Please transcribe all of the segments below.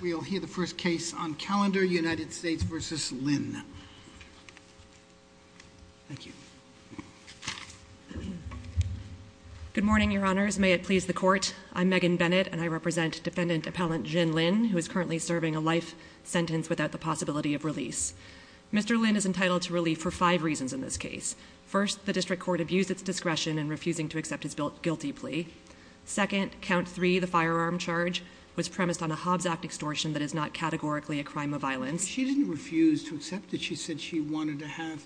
We'll hear the first case on calendar, United States v. Lynn. Thank you. Good morning, your honors. May it please the court. I'm Megan Bennett, and I represent defendant appellant Jin Lynn, who is currently serving a life sentence without the possibility of release. Mr. Lynn is entitled to relief for five reasons in this case. First, the district court abused its discretion in refusing to accept his guilty plea. Second, count three, the firearm charge, was premised on a Hobbs Act extortion that is not categorically a crime of violence. She didn't refuse to accept it. She said she wanted to have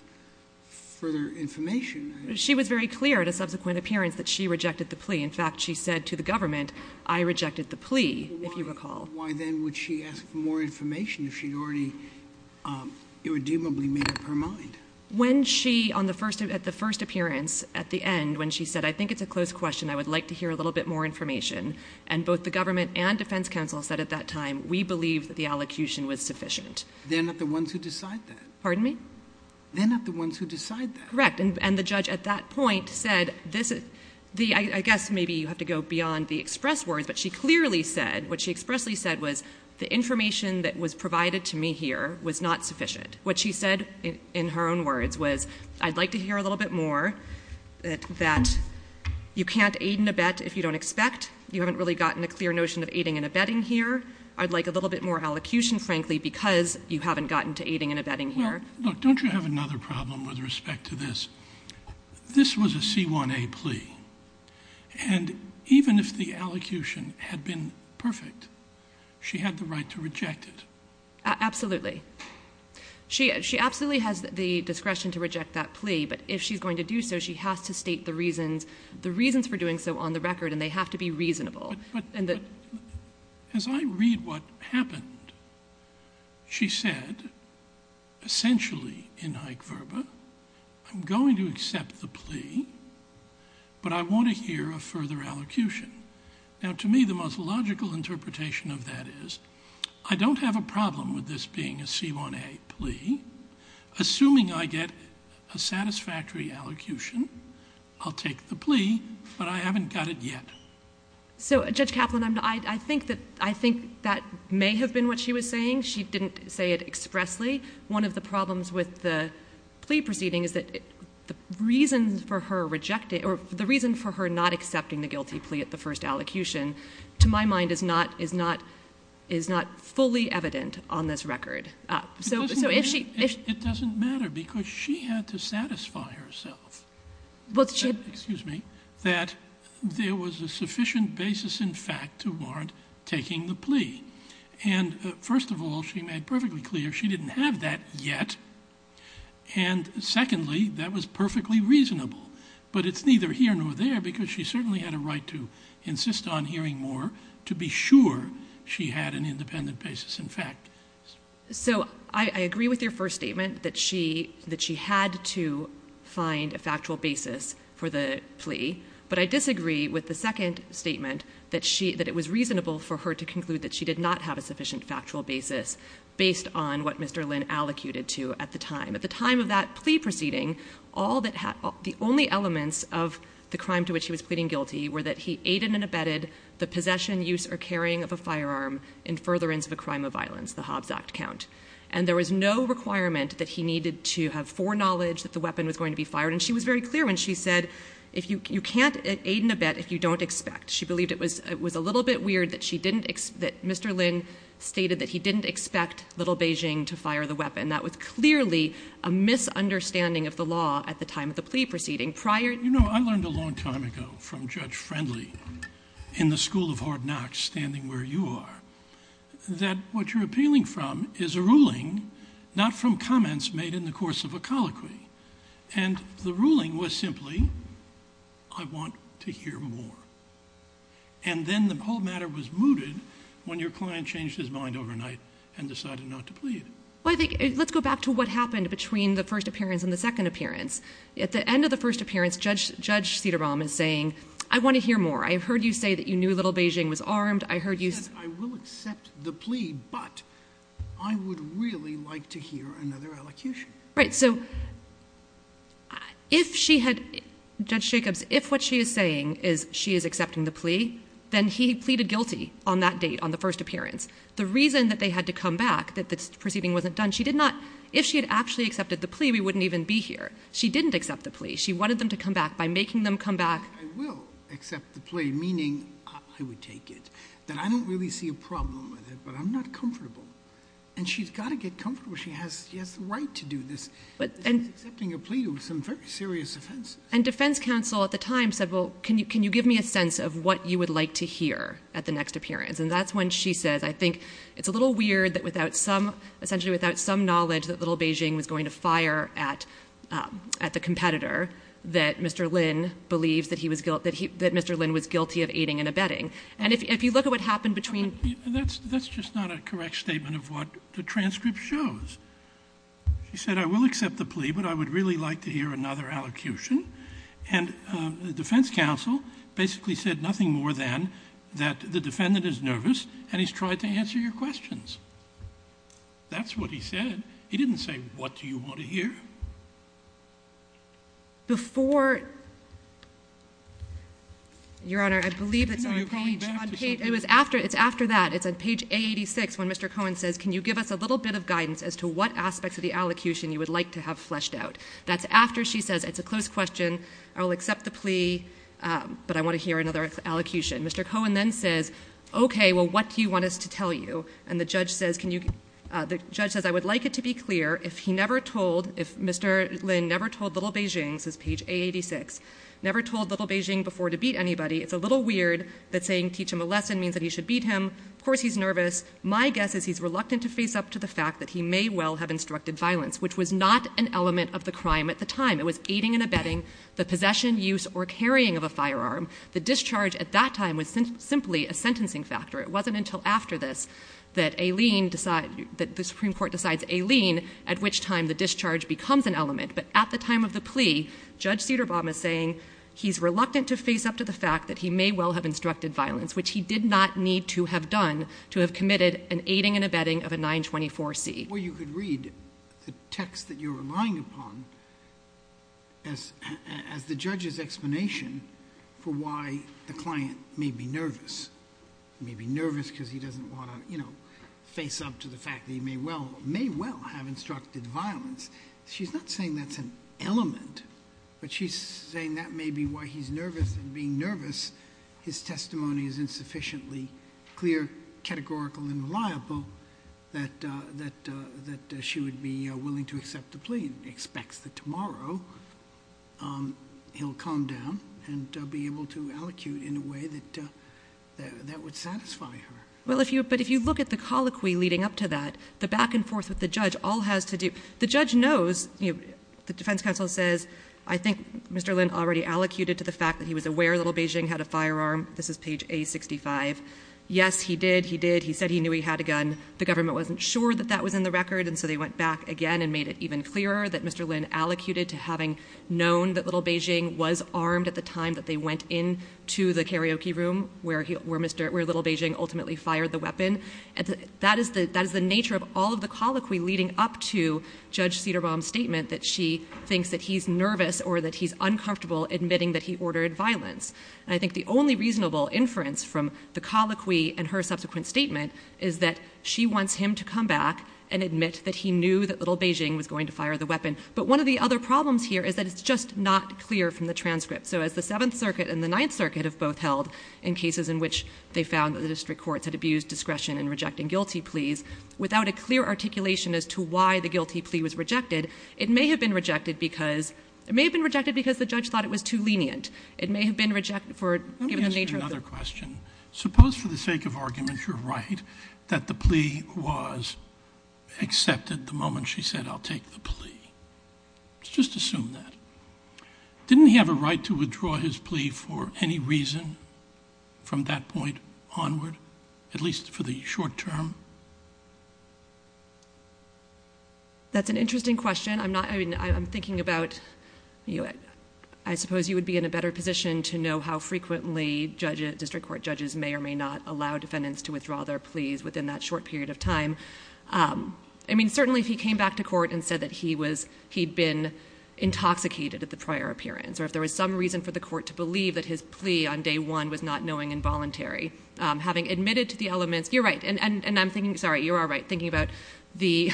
further information. She was very clear at a subsequent appearance that she rejected the plea. In fact, she said to the government, I rejected the plea, if you recall. Why then would she ask for more information if she'd already irredeemably made up her mind? When she, at the first appearance, at the end, when she said, I think it's a close question, I would like to hear a little bit more information. And both the government and defense counsel said at that time, we believe that the allocution was sufficient. They're not the ones who decide that. Pardon me? They're not the ones who decide that. Correct, and the judge at that point said, I guess maybe you have to go beyond the express words. But she clearly said, what she expressly said was, the information that was provided to me here was not sufficient. What she said, in her own words, was, I'd like to hear a little bit more that you can't aid and abet if you don't expect. You haven't really gotten a clear notion of aiding and abetting here. I'd like a little bit more allocution, frankly, because you haven't gotten to aiding and abetting here. Look, don't you have another problem with respect to this? This was a C1A plea, and even if the allocution had been perfect, she had the right to reject it. Absolutely. She absolutely has the discretion to reject that plea, but if she's going to do so, she has to state the reasons for doing so on the record, and they have to be reasonable. And the- As I read what happened, she said, essentially in Hike-Verba, I'm going to accept the plea, but I want to hear a further allocution. Now, to me, the most logical interpretation of that is, I don't have a problem with this being a C1A plea. Assuming I get a satisfactory allocution, I'll take the plea, but I haven't got it yet. So, Judge Kaplan, I think that may have been what she was saying. She didn't say it expressly. I think one of the problems with the plea proceeding is that the reason for her rejecting, or the reason for her not accepting the guilty plea at the first allocution, to my mind, is not fully evident on this record. So, if she- It doesn't matter, because she had to satisfy herself, excuse me, that there was a sufficient basis in fact to warrant taking the plea. And first of all, she made perfectly clear she didn't have that yet. And secondly, that was perfectly reasonable. But it's neither here nor there, because she certainly had a right to insist on hearing more, to be sure she had an independent basis in fact. So, I agree with your first statement, that she had to find a factual basis for the plea. But I disagree with the second statement, that it was reasonable for her to conclude that she did not have a sufficient factual basis based on what Mr. Lynn allocated to at the time. At the time of that plea proceeding, the only elements of the crime to which he was pleading guilty were that he aided and abetted the possession, use, or carrying of a firearm in furtherance of a crime of violence, the Hobbs Act count. And there was no requirement that he needed to have foreknowledge that the weapon was going to be fired. And she was very clear when she said, you can't aid and abet if you don't expect. She believed it was a little bit weird that Mr. Lynn stated that he didn't expect Little Beijing to fire the weapon. That was clearly a misunderstanding of the law at the time of the plea proceeding. Prior- You know, I learned a long time ago from Judge Friendly in the school of Hard Knocks, standing where you are, that what you're appealing from is a ruling, not from comments made in the course of a colloquy. And the ruling was simply, I want to hear more. And then the whole matter was mooted when your client changed his mind overnight and decided not to plead. Well, I think, let's go back to what happened between the first appearance and the second appearance. At the end of the first appearance, Judge Cederbaum is saying, I want to hear more. I have heard you say that you knew Little Beijing was armed. I heard you- I will accept the plea, but I would really like to hear another elocution. Right, so if she had, Judge Jacobs, if what she is saying is she is accepting the plea, then he pleaded guilty on that date, on the first appearance. The reason that they had to come back, that this proceeding wasn't done, she did not, if she had actually accepted the plea, we wouldn't even be here. She didn't accept the plea. She wanted them to come back by making them come back- I will accept the plea, meaning, I would take it, that I don't really see a problem with it, but I'm not comfortable. And she's got to get comfortable, she has the right to do this. She's accepting a plea with some very serious offenses. And defense counsel at the time said, well, can you give me a sense of what you would like to hear at the next appearance? And that's when she says, I think it's a little weird that without some, essentially without some knowledge that Little Beijing was going to fire at the competitor, that Mr. Lin was guilty of aiding and abetting. And if you look at what happened between- That's just not a correct statement of what the transcript shows. She said, I will accept the plea, but I would really like to hear another allocution. And the defense counsel basically said nothing more than that the defendant is nervous and he's tried to answer your questions. That's what he said. He didn't say, what do you want to hear? Before, Your Honor, I believe it's on the page. It's after that, it's on page A86 when Mr. Cohen says, can you give us a little bit of guidance as to what aspects of the allocution you would like to have fleshed out? That's after she says, it's a close question, I will accept the plea, but I want to hear another allocution. Mr. Cohen then says, okay, well, what do you want us to tell you? And the judge says, I would like it to be clear if he never told, if Mr. Lin never told Little Beijing, this is page A86, never told Little Beijing before to beat anybody, it's a little weird that saying teach him a lesson means that he should beat him, of course he's nervous. My guess is he's reluctant to face up to the fact that he may well have instructed violence, which was not an element of the crime at the time. It was aiding and abetting the possession, use, or carrying of a firearm. The discharge at that time was simply a sentencing factor. It wasn't until after this that the Supreme Court decides a lien, at which time the discharge becomes an element. But at the time of the plea, Judge Cederbaum is saying he's reluctant to face up to the fact that he may well have instructed violence, which he did not need to have done to have committed an aiding and abetting of a 924C. Well, you could read the text that you're relying upon as the judge's explanation for why the client may be nervous. May be nervous because he doesn't want to face up to the fact that he may well have instructed violence. She's not saying that's an element, but she's saying that may be why he's nervous and being nervous, his testimony is insufficiently clear, categorical, and reliable that she would be willing to accept the plea. Expects that tomorrow he'll calm down and be able to allocute in a way that would satisfy her. But if you look at the colloquy leading up to that, the back and forth with the judge all has to do. The judge knows, the defense counsel says, I think Mr. Lin already allocated to the fact that he was aware Little Beijing had a firearm, this is page A65. Yes, he did, he did, he said he knew he had a gun. The government wasn't sure that that was in the record and so they went back again and made it even clearer that Mr. Lin allocated to having known that Little Beijing was going to fire the weapon and that is the nature of all of the colloquy leading up to Judge Cederbaum's statement that she thinks that he's nervous or that he's uncomfortable admitting that he ordered violence. I think the only reasonable inference from the colloquy and her subsequent statement is that she wants him to come back and admit that he knew that Little Beijing was going to fire the weapon, but one of the other problems here is that it's just not clear from the transcript. So as the Seventh Circuit and the Ninth Circuit have both held in cases in which they found that the district courts had abused discretion in rejecting guilty pleas, without a clear articulation as to why the guilty plea was rejected, it may have been rejected because, it may have been rejected because the judge thought it was too lenient, it may have been rejected for, given the nature of the- Let me ask you another question. Suppose for the sake of argument you're right, that the plea was accepted the moment she said I'll take the plea. Let's just assume that. Didn't he have a right to withdraw his plea for any reason from that point onward, at least for the short term? That's an interesting question. I'm not, I mean, I'm thinking about, I suppose you would be in a better position to know how frequently judges, district court judges may or may not allow defendants to withdraw their pleas within that short period of time. I mean, certainly if he came back to court and said that he was, he'd been intoxicated at the prior appearance, or if there was some reason for the court to believe that his plea on day one was not knowing and voluntary. Having admitted to the elements, you're right, and I'm thinking, sorry, you are right, thinking about the-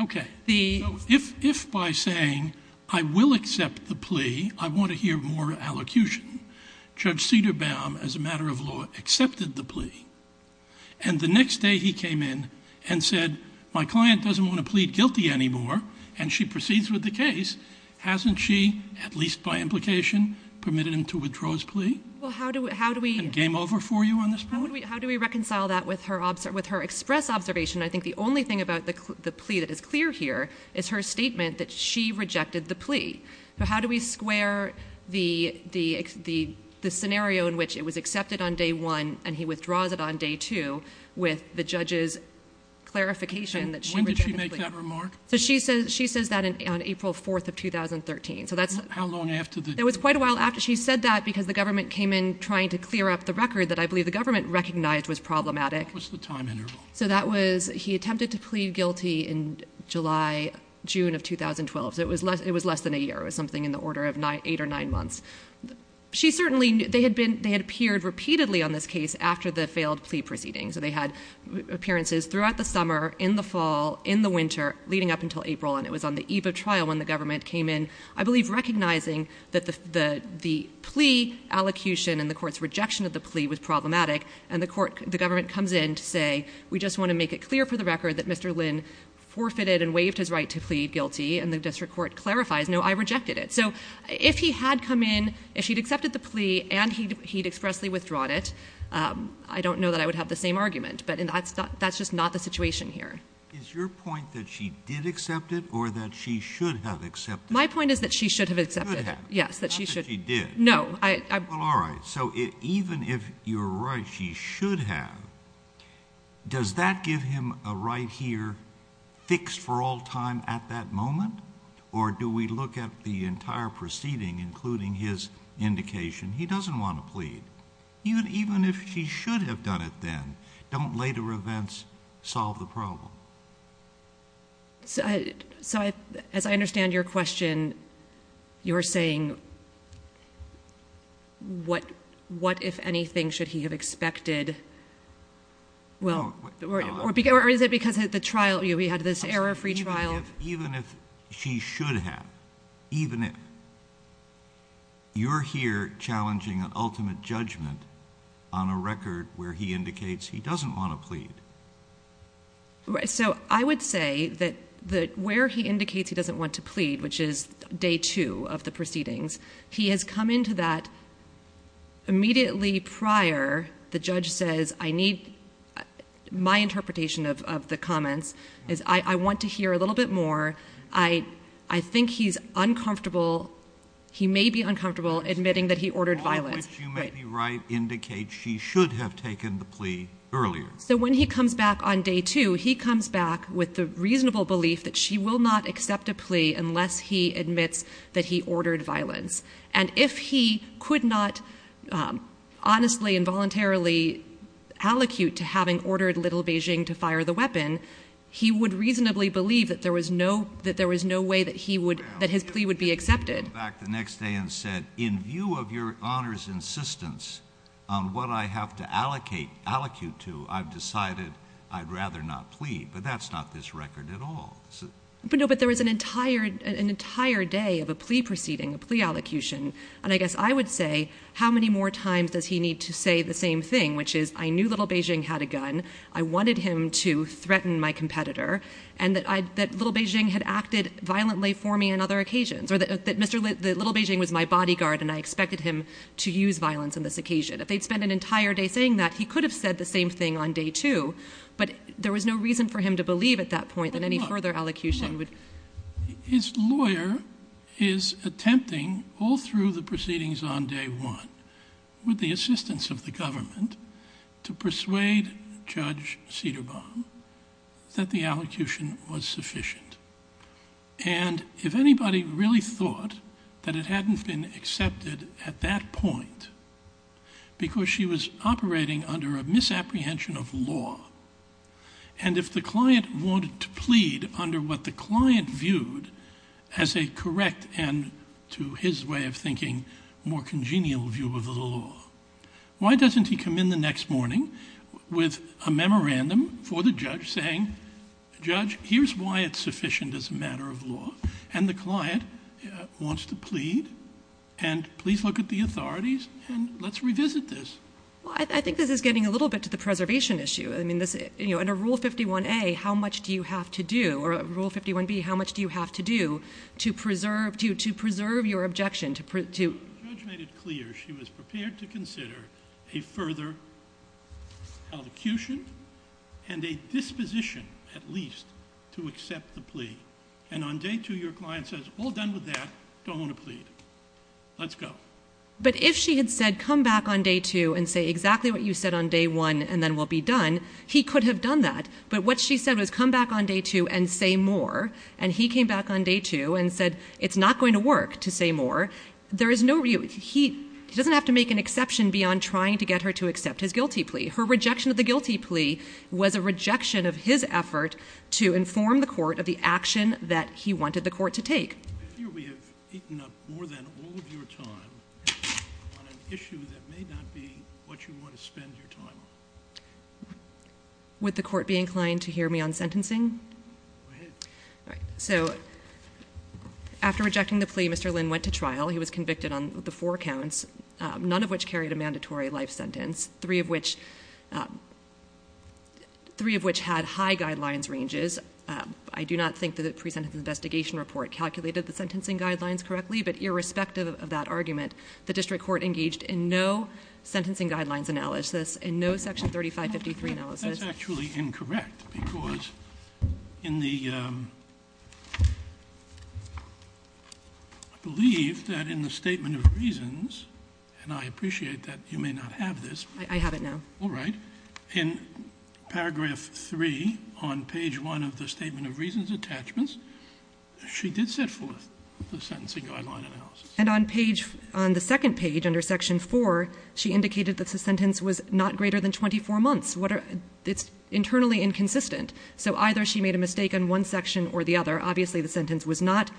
Okay. The- If by saying, I will accept the plea, I want to hear more allocution. Judge Cederbaum, as a matter of law, accepted the plea. And the next day he came in and said, my client doesn't want to plead guilty anymore. And she proceeds with the case. Hasn't she, at least by implication, permitted him to withdraw his plea? Well, how do we- And game over for you on this point? How do we reconcile that with her express observation? I think the only thing about the plea that is clear here is her statement that she rejected the plea. So how do we square the scenario in which it was accepted on day one and he withdraws it on day two with the judge's clarification that she rejected the plea? When did she make that remark? So she says that on April 4th of 2013. So that's- How long after the- It was quite a while after. She said that because the government came in trying to clear up the record that I believe the government recognized was problematic. What was the time interval? So that was- he attempted to plead guilty in July, June of 2012. So it was less than a year. It was something in the order of eight or nine months. She certainly- they had appeared repeatedly on this case after the failed plea proceeding. So they had appearances throughout the summer, in the fall, in the winter, leading up until April. And it was on the eve of trial when the government came in, I believe, recognizing that the plea allocution and the court's rejection of the plea was problematic. And the court- the government comes in to say, we just want to make it clear for the record that Mr. Lynn forfeited and waived his right to plead guilty. And the district court clarifies, no, I rejected it. So if he had come in, if she'd accepted the plea and he'd expressly withdrawn it, I don't know that I would have the same argument. But that's just not the situation here. Is your point that she did accept it or that she should have accepted it? My point is that she should have accepted it. Yes, that she should- Not that she did. No, I- Well, all right. So even if you're right, she should have, does that give him a right here fixed for all time at that moment? Or do we look at the entire proceeding, including his indication? He doesn't want to plead. Even if she should have done it then, don't later events solve the problem? So as I understand your question, you're saying what, if anything, should he have expected? Or is it because of the trial? We had this error-free trial. Even if she should have, even if. You're here challenging an ultimate judgment on a record where he indicates he doesn't want to plead. So I would say that where he indicates he doesn't want to plead, which is day two of the proceedings, he has come into that immediately prior. The judge says, I need my interpretation of the comments. I want to hear a little bit more. I think he's uncomfortable. He may be uncomfortable admitting that he ordered violence. All of which you may be right indicates she should have taken the plea earlier. So when he comes back on day two, he comes back with the reasonable belief that she will not accept a plea unless he admits that he ordered violence. And if he could not honestly and voluntarily allocute to having ordered little Beijing to fire the weapon, he would reasonably believe that there was no way that his plea would be accepted. He came back the next day and said, in view of your Honor's insistence on what I have to allocate to, I've decided I'd rather not plead. But that's not this record at all. But no, but there was an entire day of a plea proceeding, a plea allocution. And I guess I would say, how many more times does he need to say the same thing, which is, I knew little Beijing had a gun. I wanted him to threaten my competitor. And that little Beijing had acted violently for me on other occasions. Or that little Beijing was my bodyguard and I expected him to use violence on this occasion. If they'd spent an entire day saying that, he could have said the same thing on day two. But there was no reason for him to believe at that point that any further allocution would. His lawyer is attempting all through the proceedings on day one, with the assistance of the government, to persuade Judge Cederbaum that the allocution was sufficient. And if anybody really thought that it hadn't been accepted at that point, because she was operating under a misapprehension of law, and if the client wanted to plead under what the client viewed as a correct, and to his way of thinking, more congenial view of the law, why doesn't he come in the next morning with a memorandum for the judge saying, Judge, here's why it's sufficient as a matter of law. And the client wants to plead, and please look at the authorities, and let's revisit this. Well, I think this is getting a little bit to the preservation issue. I mean, under Rule 51A, how much do you have to do, or Rule 51B, how much do you have to do to preserve your objection? The judge made it clear she was prepared to consider a further allocution, and a disposition, at least, to accept the plea. And on day two, your client says, all done with that, don't want to plead. Let's go. But if she had said, come back on day two and say exactly what you said on day one and then we'll be done, he could have done that. But what she said was, come back on day two and say more, and he came back on day two and said, it's not going to work to say more. He doesn't have to make an exception beyond trying to get her to accept his guilty plea. Her rejection of the guilty plea was a rejection of his effort to inform the court of the action that he wanted the court to take. I fear we have eaten up more than all of your time on an issue that may not be what you want to spend your time on. Would the court be inclined to hear me on sentencing? Go ahead. All right. So after rejecting the plea, Mr. Lynn went to trial. He was convicted on the four counts, none of which carried a mandatory life sentence, three of which had high guidelines ranges. I do not think that the pre-sentence investigation report calculated the sentencing guidelines correctly, but irrespective of that argument, the district court engaged in no sentencing guidelines analysis, in no section 3553 analysis. That's actually incorrect because in the, I believe that in the statement of reasons, and I appreciate that you may not have this. All right. In paragraph 3 on page 1 of the statement of reasons attachments, she did set forth the sentencing guideline analysis. And on page, on the second page under section 4, she indicated that the sentence was not greater than 24 months. It's internally inconsistent. So either she made a mistake on one section or the other. Obviously, the sentence was not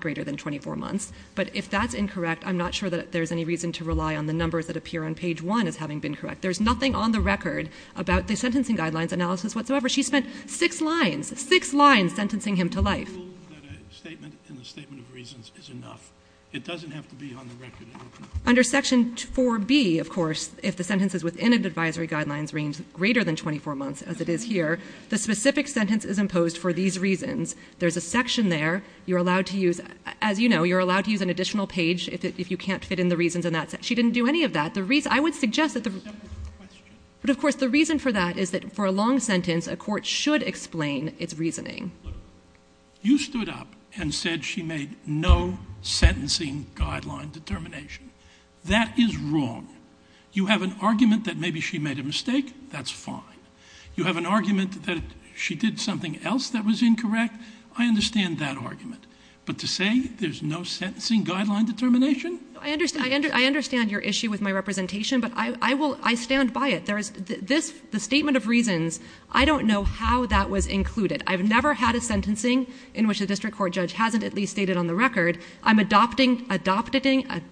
greater than 24 months. But if that's incorrect, I'm not sure that there's any reason to rely on the numbers that appear on page 1 as having been correct. There's nothing on the record about the sentencing guidelines analysis whatsoever. She spent six lines, six lines sentencing him to life. The rule that a statement in the statement of reasons is enough. It doesn't have to be on the record. Under section 4B, of course, if the sentences within an advisory guidelines range greater than 24 months, as it is here, the specific sentence is imposed for these reasons. There's a section there. You're allowed to use, as you know, you're allowed to use an additional page if you can't fit in the reasons in that section. She didn't do any of that. I would suggest that the reason for that is that for a long sentence, a court should explain its reasoning. You stood up and said she made no sentencing guideline determination. That is wrong. You have an argument that maybe she made a mistake. That's fine. You have an argument that she did something else that was incorrect. I understand that argument. But to say there's no sentencing guideline determination? I understand your issue with my representation, but I stand by it. The statement of reasons, I don't know how that was included. I've never had a sentencing in which a district court judge hasn't at least stated on the record, I'm adopting the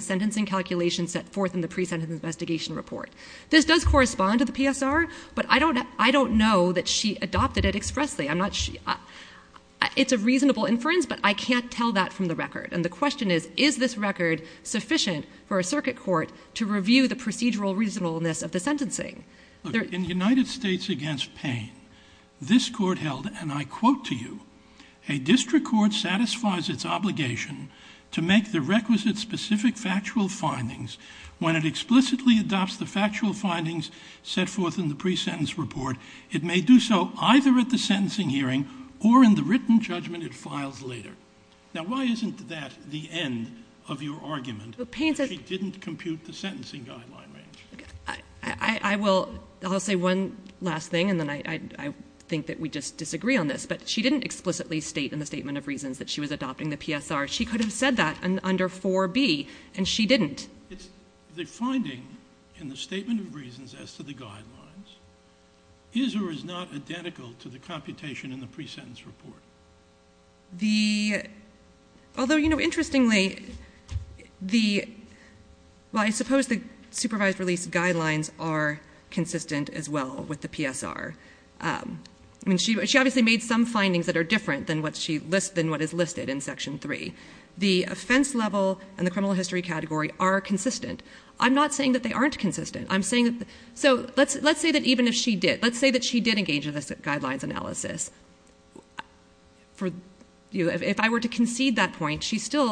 sentencing calculation set forth in the pre-sentence investigation report. This does correspond to the PSR, but I don't know that she adopted it expressly. It's a reasonable inference, but I can't tell that from the record. And the question is, is this record sufficient for a circuit court to review the procedural reasonableness of the sentencing? In the United States against pain, this court held, and I quote to you, a district court satisfies its obligation to make the requisite specific factual findings when it explicitly adopts the factual findings set forth in the pre-sentence report. It may do so either at the sentencing hearing or in the written judgment it files later. Now, why isn't that the end of your argument that she didn't compute the sentencing guideline range? I will say one last thing, and then I think that we just disagree on this, but she didn't explicitly state in the statement of reasons that she was adopting the PSR. She could have said that under 4B, and she didn't. The finding in the statement of reasons as to the guidelines is or is not identical to the computation in the pre-sentence report. Although, interestingly, I suppose the supervised release guidelines are consistent as well with the PSR. She obviously made some findings that are different than what is listed in Section 3. The offense level and the criminal history category are consistent. I'm not saying that they aren't consistent. Let's say that she did engage in the guidelines analysis. If I were to concede that point,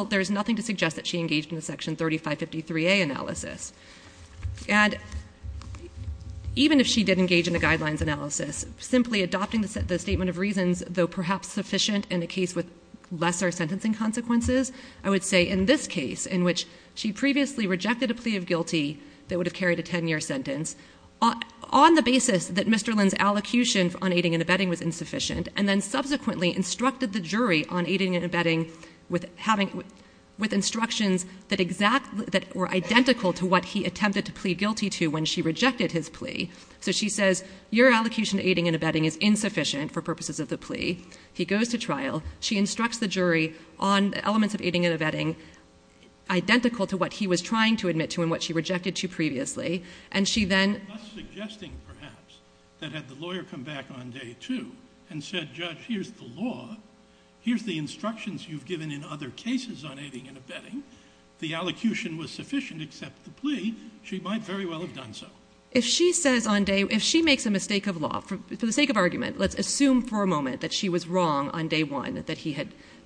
there's nothing to suggest that she engaged in the Section 3553A analysis. Even if she did engage in the guidelines analysis, simply adopting the statement of reasons, though perhaps sufficient in a case with lesser sentencing consequences, I would say in this case, in which she previously rejected a plea of guilty that would have carried a 10-year sentence on the basis that Mr. Lynn's allocution on aiding and abetting was insufficient, and then subsequently instructed the jury on aiding and abetting with instructions that were identical to what he attempted to plea guilty to when she rejected his plea. So she says, your allocation to aiding and abetting is insufficient for purposes of the plea. He goes to trial. She instructs the jury on elements of aiding and abetting identical to what he was trying to admit to and what she rejected to previously. And she then— Thus suggesting, perhaps, that had the lawyer come back on day two and said, Judge, here's the law. Here's the instructions you've given in other cases on aiding and abetting. The allocution was sufficient except the plea. She might very well have done so. Let's assume for a moment that she was wrong on day one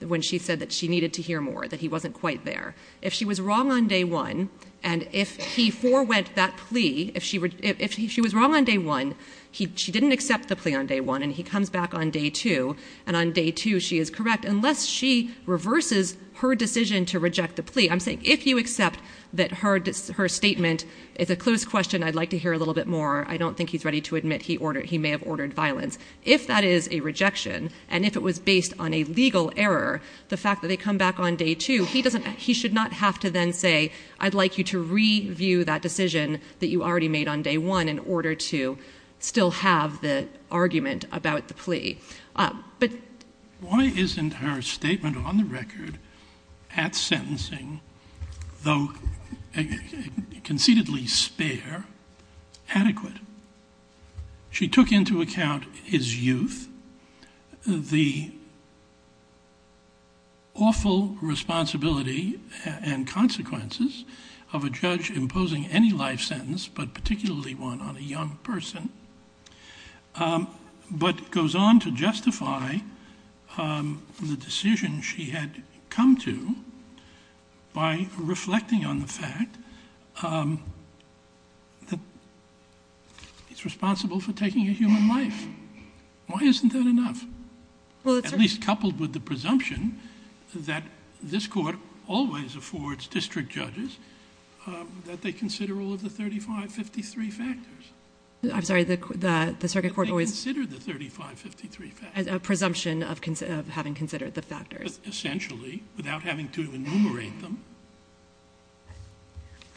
when she said that she needed to hear more, that he wasn't quite there. If she was wrong on day one, and if he forewent that plea, if she was wrong on day one, she didn't accept the plea on day one, and he comes back on day two, and on day two she is correct, unless she reverses her decision to reject the plea. I'm saying if you accept that her statement is a close question, I'd like to hear a little bit more. I don't think he's ready to admit he may have ordered violence. If that is a rejection, and if it was based on a legal error, the fact that they come back on day two, he should not have to then say, I'd like you to review that decision that you already made on day one in order to still have the argument about the plea. Why isn't her statement on the record at sentencing, though conceitedly spare, adequate? She took into account his youth, the awful responsibility and consequences of a judge imposing any life sentence, but particularly one on a young person, but goes on to justify the decision she had come to by reflecting on the fact that he's responsible for taking a human life. Why isn't that enough? At least coupled with the presumption that this court always affords district judges that they consider all of the 35, 53 factors. I'm sorry, the circuit court always... That they consider the 35, 53 factors. A presumption of having considered the factors. Essentially, without having to enumerate them.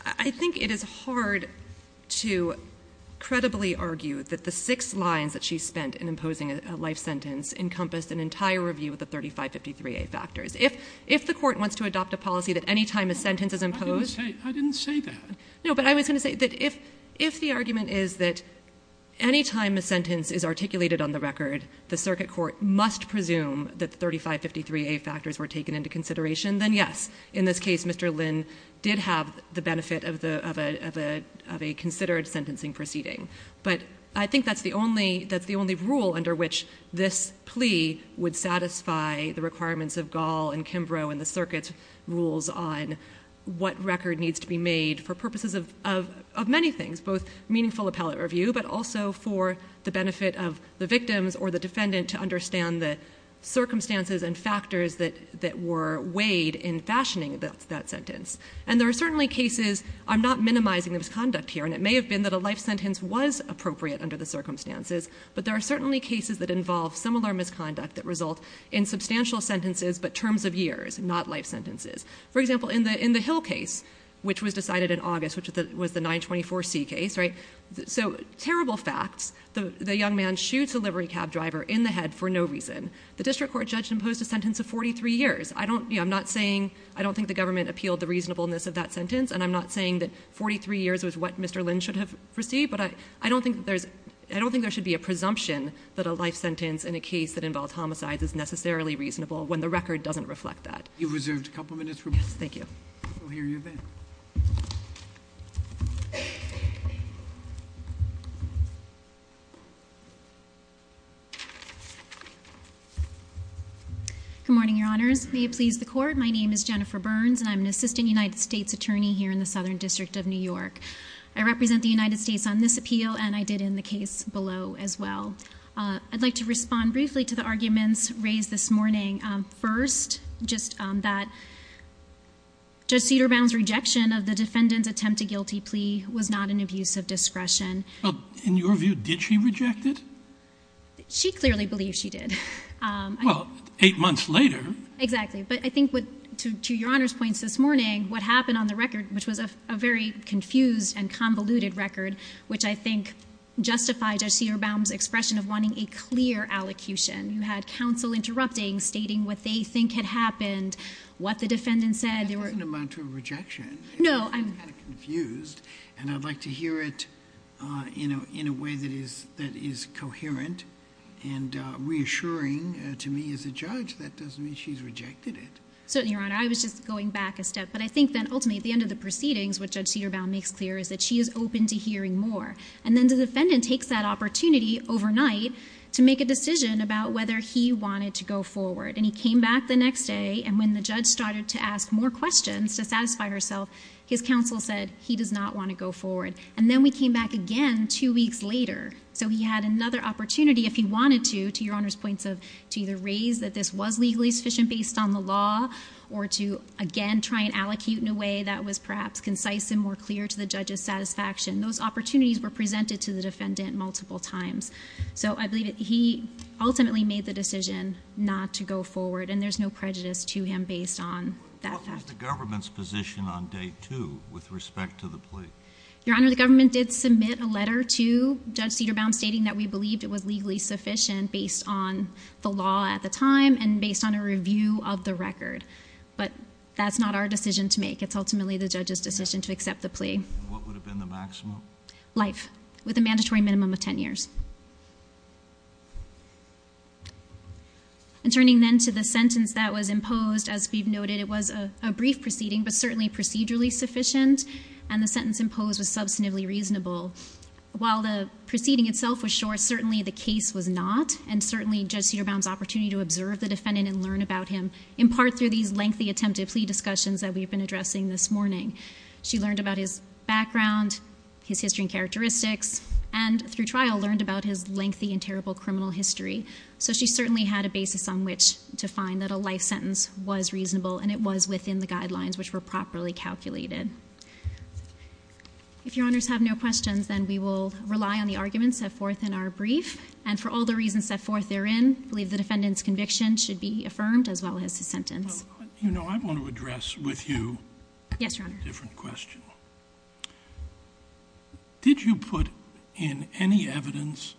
I think it is hard to credibly argue that the six lines that she spent in imposing a life sentence encompassed an entire review of the 35, 53A factors. If the court wants to adopt a policy that any time a sentence is imposed... I didn't say that. No, but I was going to say that if the argument is that any time a sentence is articulated on the record, the circuit court must presume that the 35, 53A factors were taken into consideration, then yes, in this case, Mr. Lynn did have the benefit of a considered sentencing proceeding. But I think that's the only rule under which this plea would satisfy the requirements of Gall and Kimbrough and the circuit's rules on what record needs to be made for purposes of many things. Both meaningful appellate review, but also for the benefit of the victims or the defendant to understand the circumstances and factors that were weighed in fashioning that sentence. And there are certainly cases, I'm not minimizing the misconduct here, and it may have been that a life sentence was appropriate under the circumstances, but there are certainly cases that involve similar misconduct that result in substantial sentences but terms of years, not life sentences. For example, in the Hill case, which was decided in August, which was the 924C case, so terrible facts, the young man shoots a livery cab driver in the head for no reason. The district court judge imposed a sentence of 43 years. I don't think the government appealed the reasonableness of that sentence, and I'm not saying that 43 years was what Mr. Lynn should have received, but I don't think there should be a presumption that a life sentence in a case that involved homicides is necessarily reasonable when the record doesn't reflect that. You have reserved a couple of minutes for me. Yes, thank you. We'll hear you then. Good morning, Your Honors. May it please the Court, my name is Jennifer Burns, and I'm an assistant United States attorney here in the Southern District of New York. I represent the United States on this appeal, and I did in the case below as well. I'd like to respond briefly to the arguments raised this morning. First, just that Judge Cederbaum's rejection of the defendant's attempt to guilty plea was not an abuse of discretion. In your view, did she reject it? She clearly believes she did. Well, eight months later. Exactly. But I think to Your Honor's points this morning, what happened on the record, which was a very confused and convoluted record, which I think justified Judge Cederbaum's expression of wanting a clear allocution. You had counsel interrupting, stating what they think had happened, what the defendant said. That doesn't amount to a rejection. No. I'm confused, and I'd like to hear it in a way that is coherent and reassuring to me as a judge. Certainly, Your Honor. I was just going back a step. But I think then, ultimately, at the end of the proceedings, what Judge Cederbaum makes clear is that she is open to hearing more. And then the defendant takes that opportunity overnight to make a decision about whether he wanted to go forward. And he came back the next day, and when the judge started to ask more questions to satisfy herself, his counsel said he does not want to go forward. And then we came back again two weeks later. So he had another opportunity, if he wanted to, to Your Honor's points of to either raise that this was legally sufficient based on the law, or to, again, try and allocate in a way that was perhaps concise and more clear to the judge's satisfaction. Those opportunities were presented to the defendant multiple times. So I believe that he ultimately made the decision not to go forward, and there's no prejudice to him based on that fact. What was the government's position on day two with respect to the plea? Your Honor, the government did submit a letter to Judge Cederbaum stating that we believed it was legally sufficient based on the law at the time, and based on a review of the record. But that's not our decision to make. It's ultimately the judge's decision to accept the plea. What would have been the maximum? Life, with a mandatory minimum of 10 years. And turning then to the sentence that was imposed, as we've noted, it was a brief proceeding, but certainly procedurally sufficient. And the sentence imposed was substantively reasonable. While the proceeding itself was short, certainly the case was not, and certainly Judge Cederbaum's opportunity to observe the defendant and learn about him, in part through these lengthy attempted plea discussions that we've been addressing this morning. She learned about his background, his history and characteristics, and through trial learned about his lengthy and terrible criminal history. So she certainly had a basis on which to find that a life sentence was reasonable, and it was within the guidelines which were properly calculated. If Your Honors have no questions, then we will rely on the arguments set forth in our brief. And for all the reasons set forth therein, I believe the defendant's conviction should be affirmed as well as his sentence. You know, I want to address with you a different question. Yes, Your Honor. Did you put in any evidence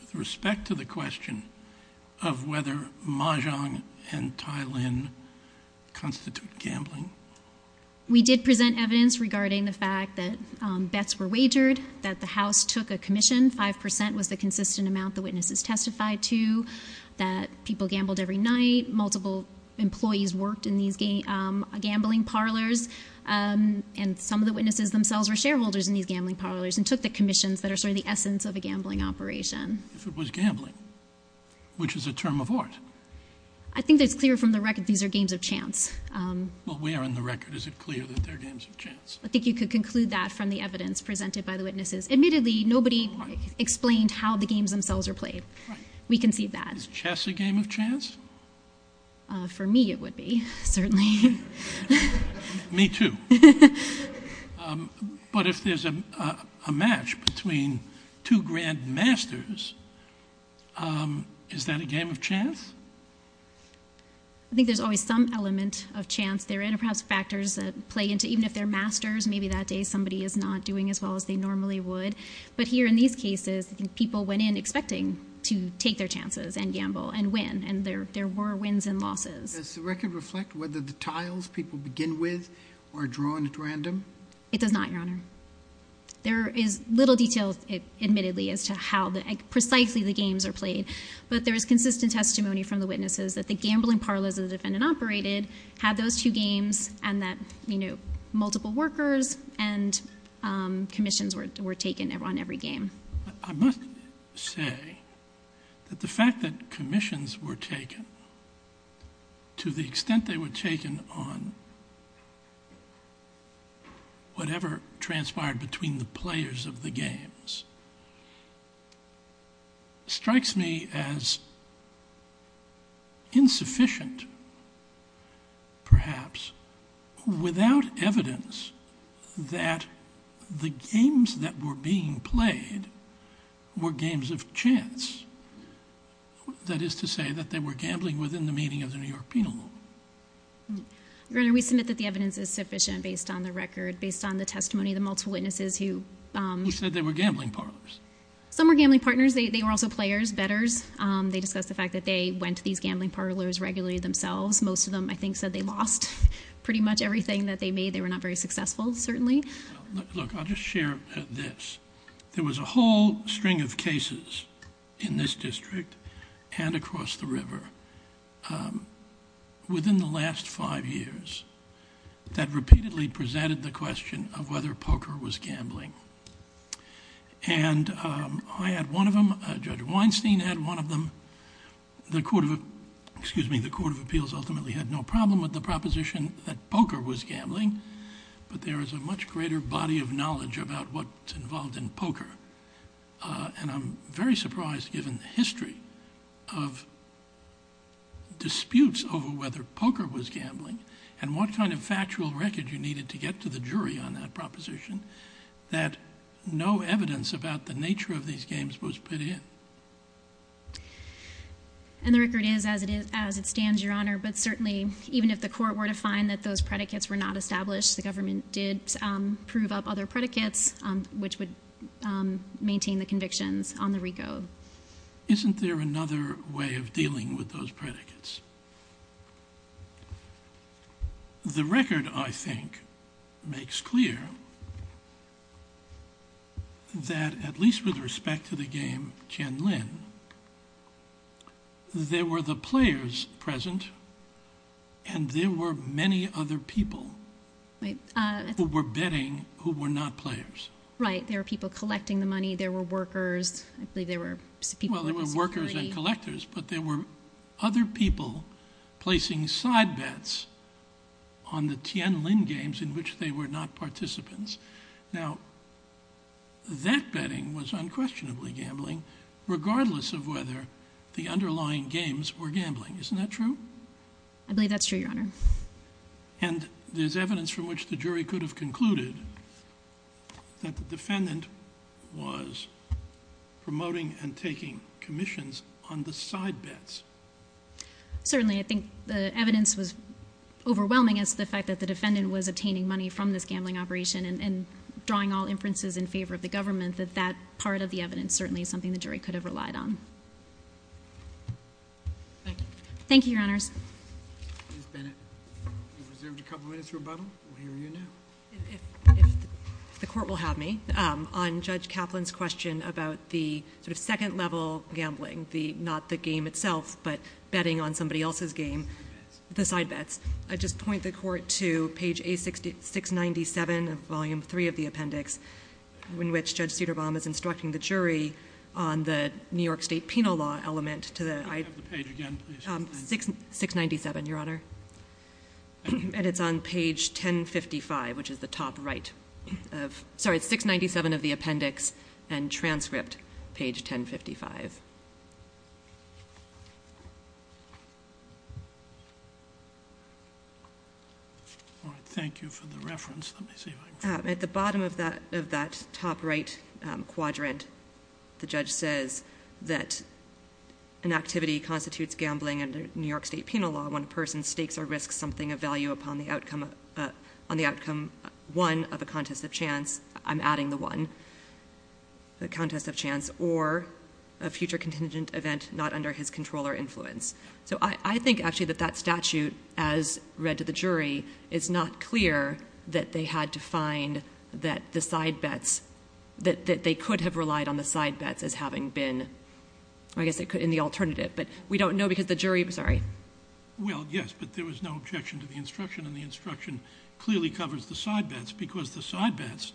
with respect to the question of whether Mahjong and Tai Lin constitute gambling? We did present evidence regarding the fact that bets were wagered, that the House took a commission, 5% was the consistent amount the witnesses testified to, that people gambled every night, multiple employees worked in these gambling parlors, and some of the witnesses themselves were shareholders in these gambling parlors, and took the commissions that are sort of the essence of a gambling operation. If it was gambling, which is a term of art. I think it's clear from the record these are games of chance. Well, where in the record is it clear that they're games of chance? I think you could conclude that from the evidence presented by the witnesses. Admittedly, nobody explained how the games themselves are played. Right. We concede that. Is chess a game of chance? For me it would be, certainly. Me too. But if there's a match between two grand masters, is that a game of chance? I think there's always some element of chance there, and perhaps factors that play into it. Even if they're masters, maybe that day somebody is not doing as well as they normally would. But here in these cases, I think people went in expecting to take their chances and gamble and win, and there were wins and losses. Does the record reflect whether the tiles people begin with are drawn at random? It does not, Your Honor. There is little detail, admittedly, as to how precisely the games are played. But there is consistent testimony from the witnesses that the gambling parlors the defendant operated had those two games, and that multiple workers and commissions were taken on every game. I must say that the fact that commissions were taken, to the extent they were taken on whatever transpired between the players of the games, strikes me as insufficient, perhaps, without evidence that the games that were being played were games of chance. That is to say that they were gambling within the meaning of the New York penal law. Your Honor, we submit that the evidence is sufficient based on the record, based on the testimony of the multiple witnesses who... Who said they were gambling parlors. Some were gambling partners. They were also players, bettors. They discussed the fact that they went to these gambling parlors regularly themselves. Most of them, I think, said they lost pretty much everything that they made. They were not very successful, certainly. Look, I'll just share this. There was a whole string of cases in this district and across the river within the last five years that repeatedly presented the question of whether poker was gambling. And I had one of them. Judge Weinstein had one of them. The Court of Appeals ultimately had no problem with the proposition that poker was gambling, but there is a much greater body of knowledge about what's involved in poker. And I'm very surprised, given the history of disputes over whether poker was gambling and what kind of factual record you needed to get to the jury on that proposition, that no evidence about the nature of these games was put in. And the record is as it stands, Your Honor. But certainly, even if the Court were to find that those predicates were not established, the government did prove up other predicates which would maintain the convictions on the RICO. Isn't there another way of dealing with those predicates? Yes. The record, I think, makes clear that, at least with respect to the game Jen Lin, there were the players present and there were many other people who were betting who were not players. Right. There were people collecting the money. There were workers. I believe there were people in the security. But there were other people placing side bets on the Jen Lin games in which they were not participants. Now, that betting was unquestionably gambling, regardless of whether the underlying games were gambling. Isn't that true? I believe that's true, Your Honor. And there's evidence from which the jury could have concluded that the defendant was promoting and taking commissions on the side bets. Certainly. I think the evidence was overwhelming as to the fact that the defendant was obtaining money from this gambling operation and drawing all inferences in favor of the government, that that part of the evidence certainly is something the jury could have relied on. Thank you. Thank you, Your Honors. Ms. Bennett, you've reserved a couple minutes for rebuttal. We'll hear you now. If the court will have me, on Judge Kaplan's question about the sort of second level gambling, not the game itself, but betting on somebody else's game, the side bets, I'd just point the court to page A697 of Volume 3 of the appendix, in which Judge Cederbaum is instructing the jury on the New York State Penal Law element to the... Can we have the page again, please? 697, Your Honor. And it's on page 1055, which is the top right of... Sorry, 697 of the appendix and transcript page 1055. All right. Thank you for the reference. Let me see if I can... At the bottom of that top right quadrant, the judge says that an activity constitutes gambling under New York State Penal Law when a person stakes or risks something of value upon the outcome 1 of a contest of chance. I'm adding the 1. A contest of chance or a future contingent event not under his control or influence. So I think, actually, that that statute, as read to the jury, is not clear that they had to find that the side bets... That they could have relied on the side bets as having been, I guess, in the alternative. But we don't know because the jury... I'm sorry. Well, yes, but there was no objection to the instruction, and the instruction clearly covers the side bets because the side bets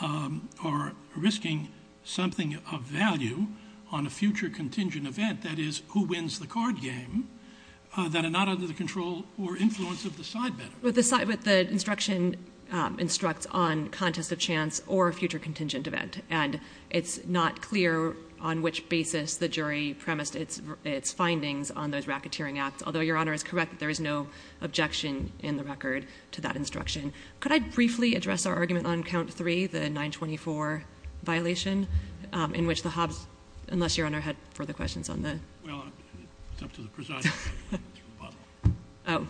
are risking something of value on a future contingent event, that is, who wins the card game, that are not under the control or influence of the side bet. But the instruction instructs on contest of chance or a future contingent event, and it's not clear on which basis the jury premised its findings on those racketeering acts, although Your Honor is correct that there is no objection in the record to that instruction. Could I briefly address our argument on count 3, the 924 violation, in which the Hobbes... Unless Your Honor had further questions on the... Well, it's up to the presiding judge. Oh.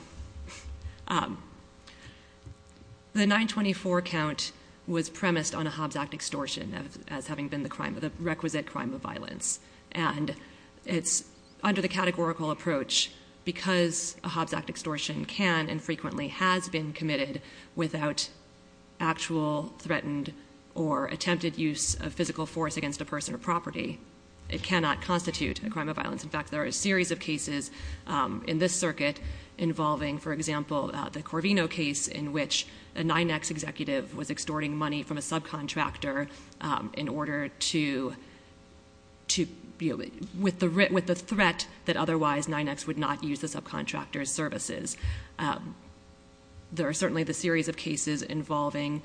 The 924 count was premised on a Hobbes Act extortion as having been the crime, the requisite crime of violence, and it's under the categorical approach because a Hobbes Act extortion can and frequently has been committed without actual threatened or attempted use of physical force against a person or property. It cannot constitute a crime of violence. In fact, there are a series of cases in this circuit involving, for example, the Corvino case in which a 9X executive was extorting money from a subcontractor in order to... with the threat that otherwise 9X would not use the subcontractor's services. There are certainly the series of cases involving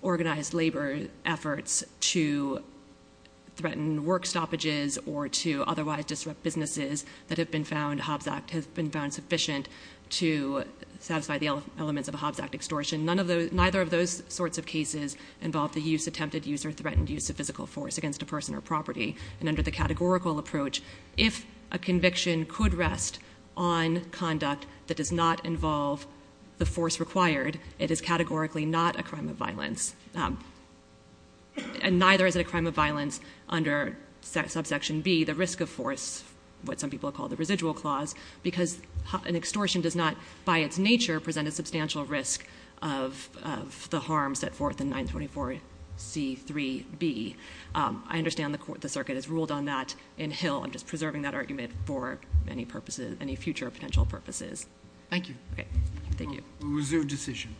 organized labor efforts to threaten work stoppages or to otherwise disrupt businesses that have been found... Hobbes Act has been found sufficient to satisfy the elements of a Hobbes Act extortion. Neither of those sorts of cases involve the use, attempted use, or threatened use of physical force against a person or property, and under the categorical approach, if a conviction could rest on conduct that does not involve the force required, it is categorically not a crime of violence, and neither is it a crime of violence under subsection B, the risk of force, what some people call the residual clause, because an extortion does not, by its nature, present a substantial risk of the harm set forth in 924C3B. I understand the circuit has ruled on that in Hill. I'm just preserving that argument for any future potential purposes. Thank you. Thank you. Reserve decision.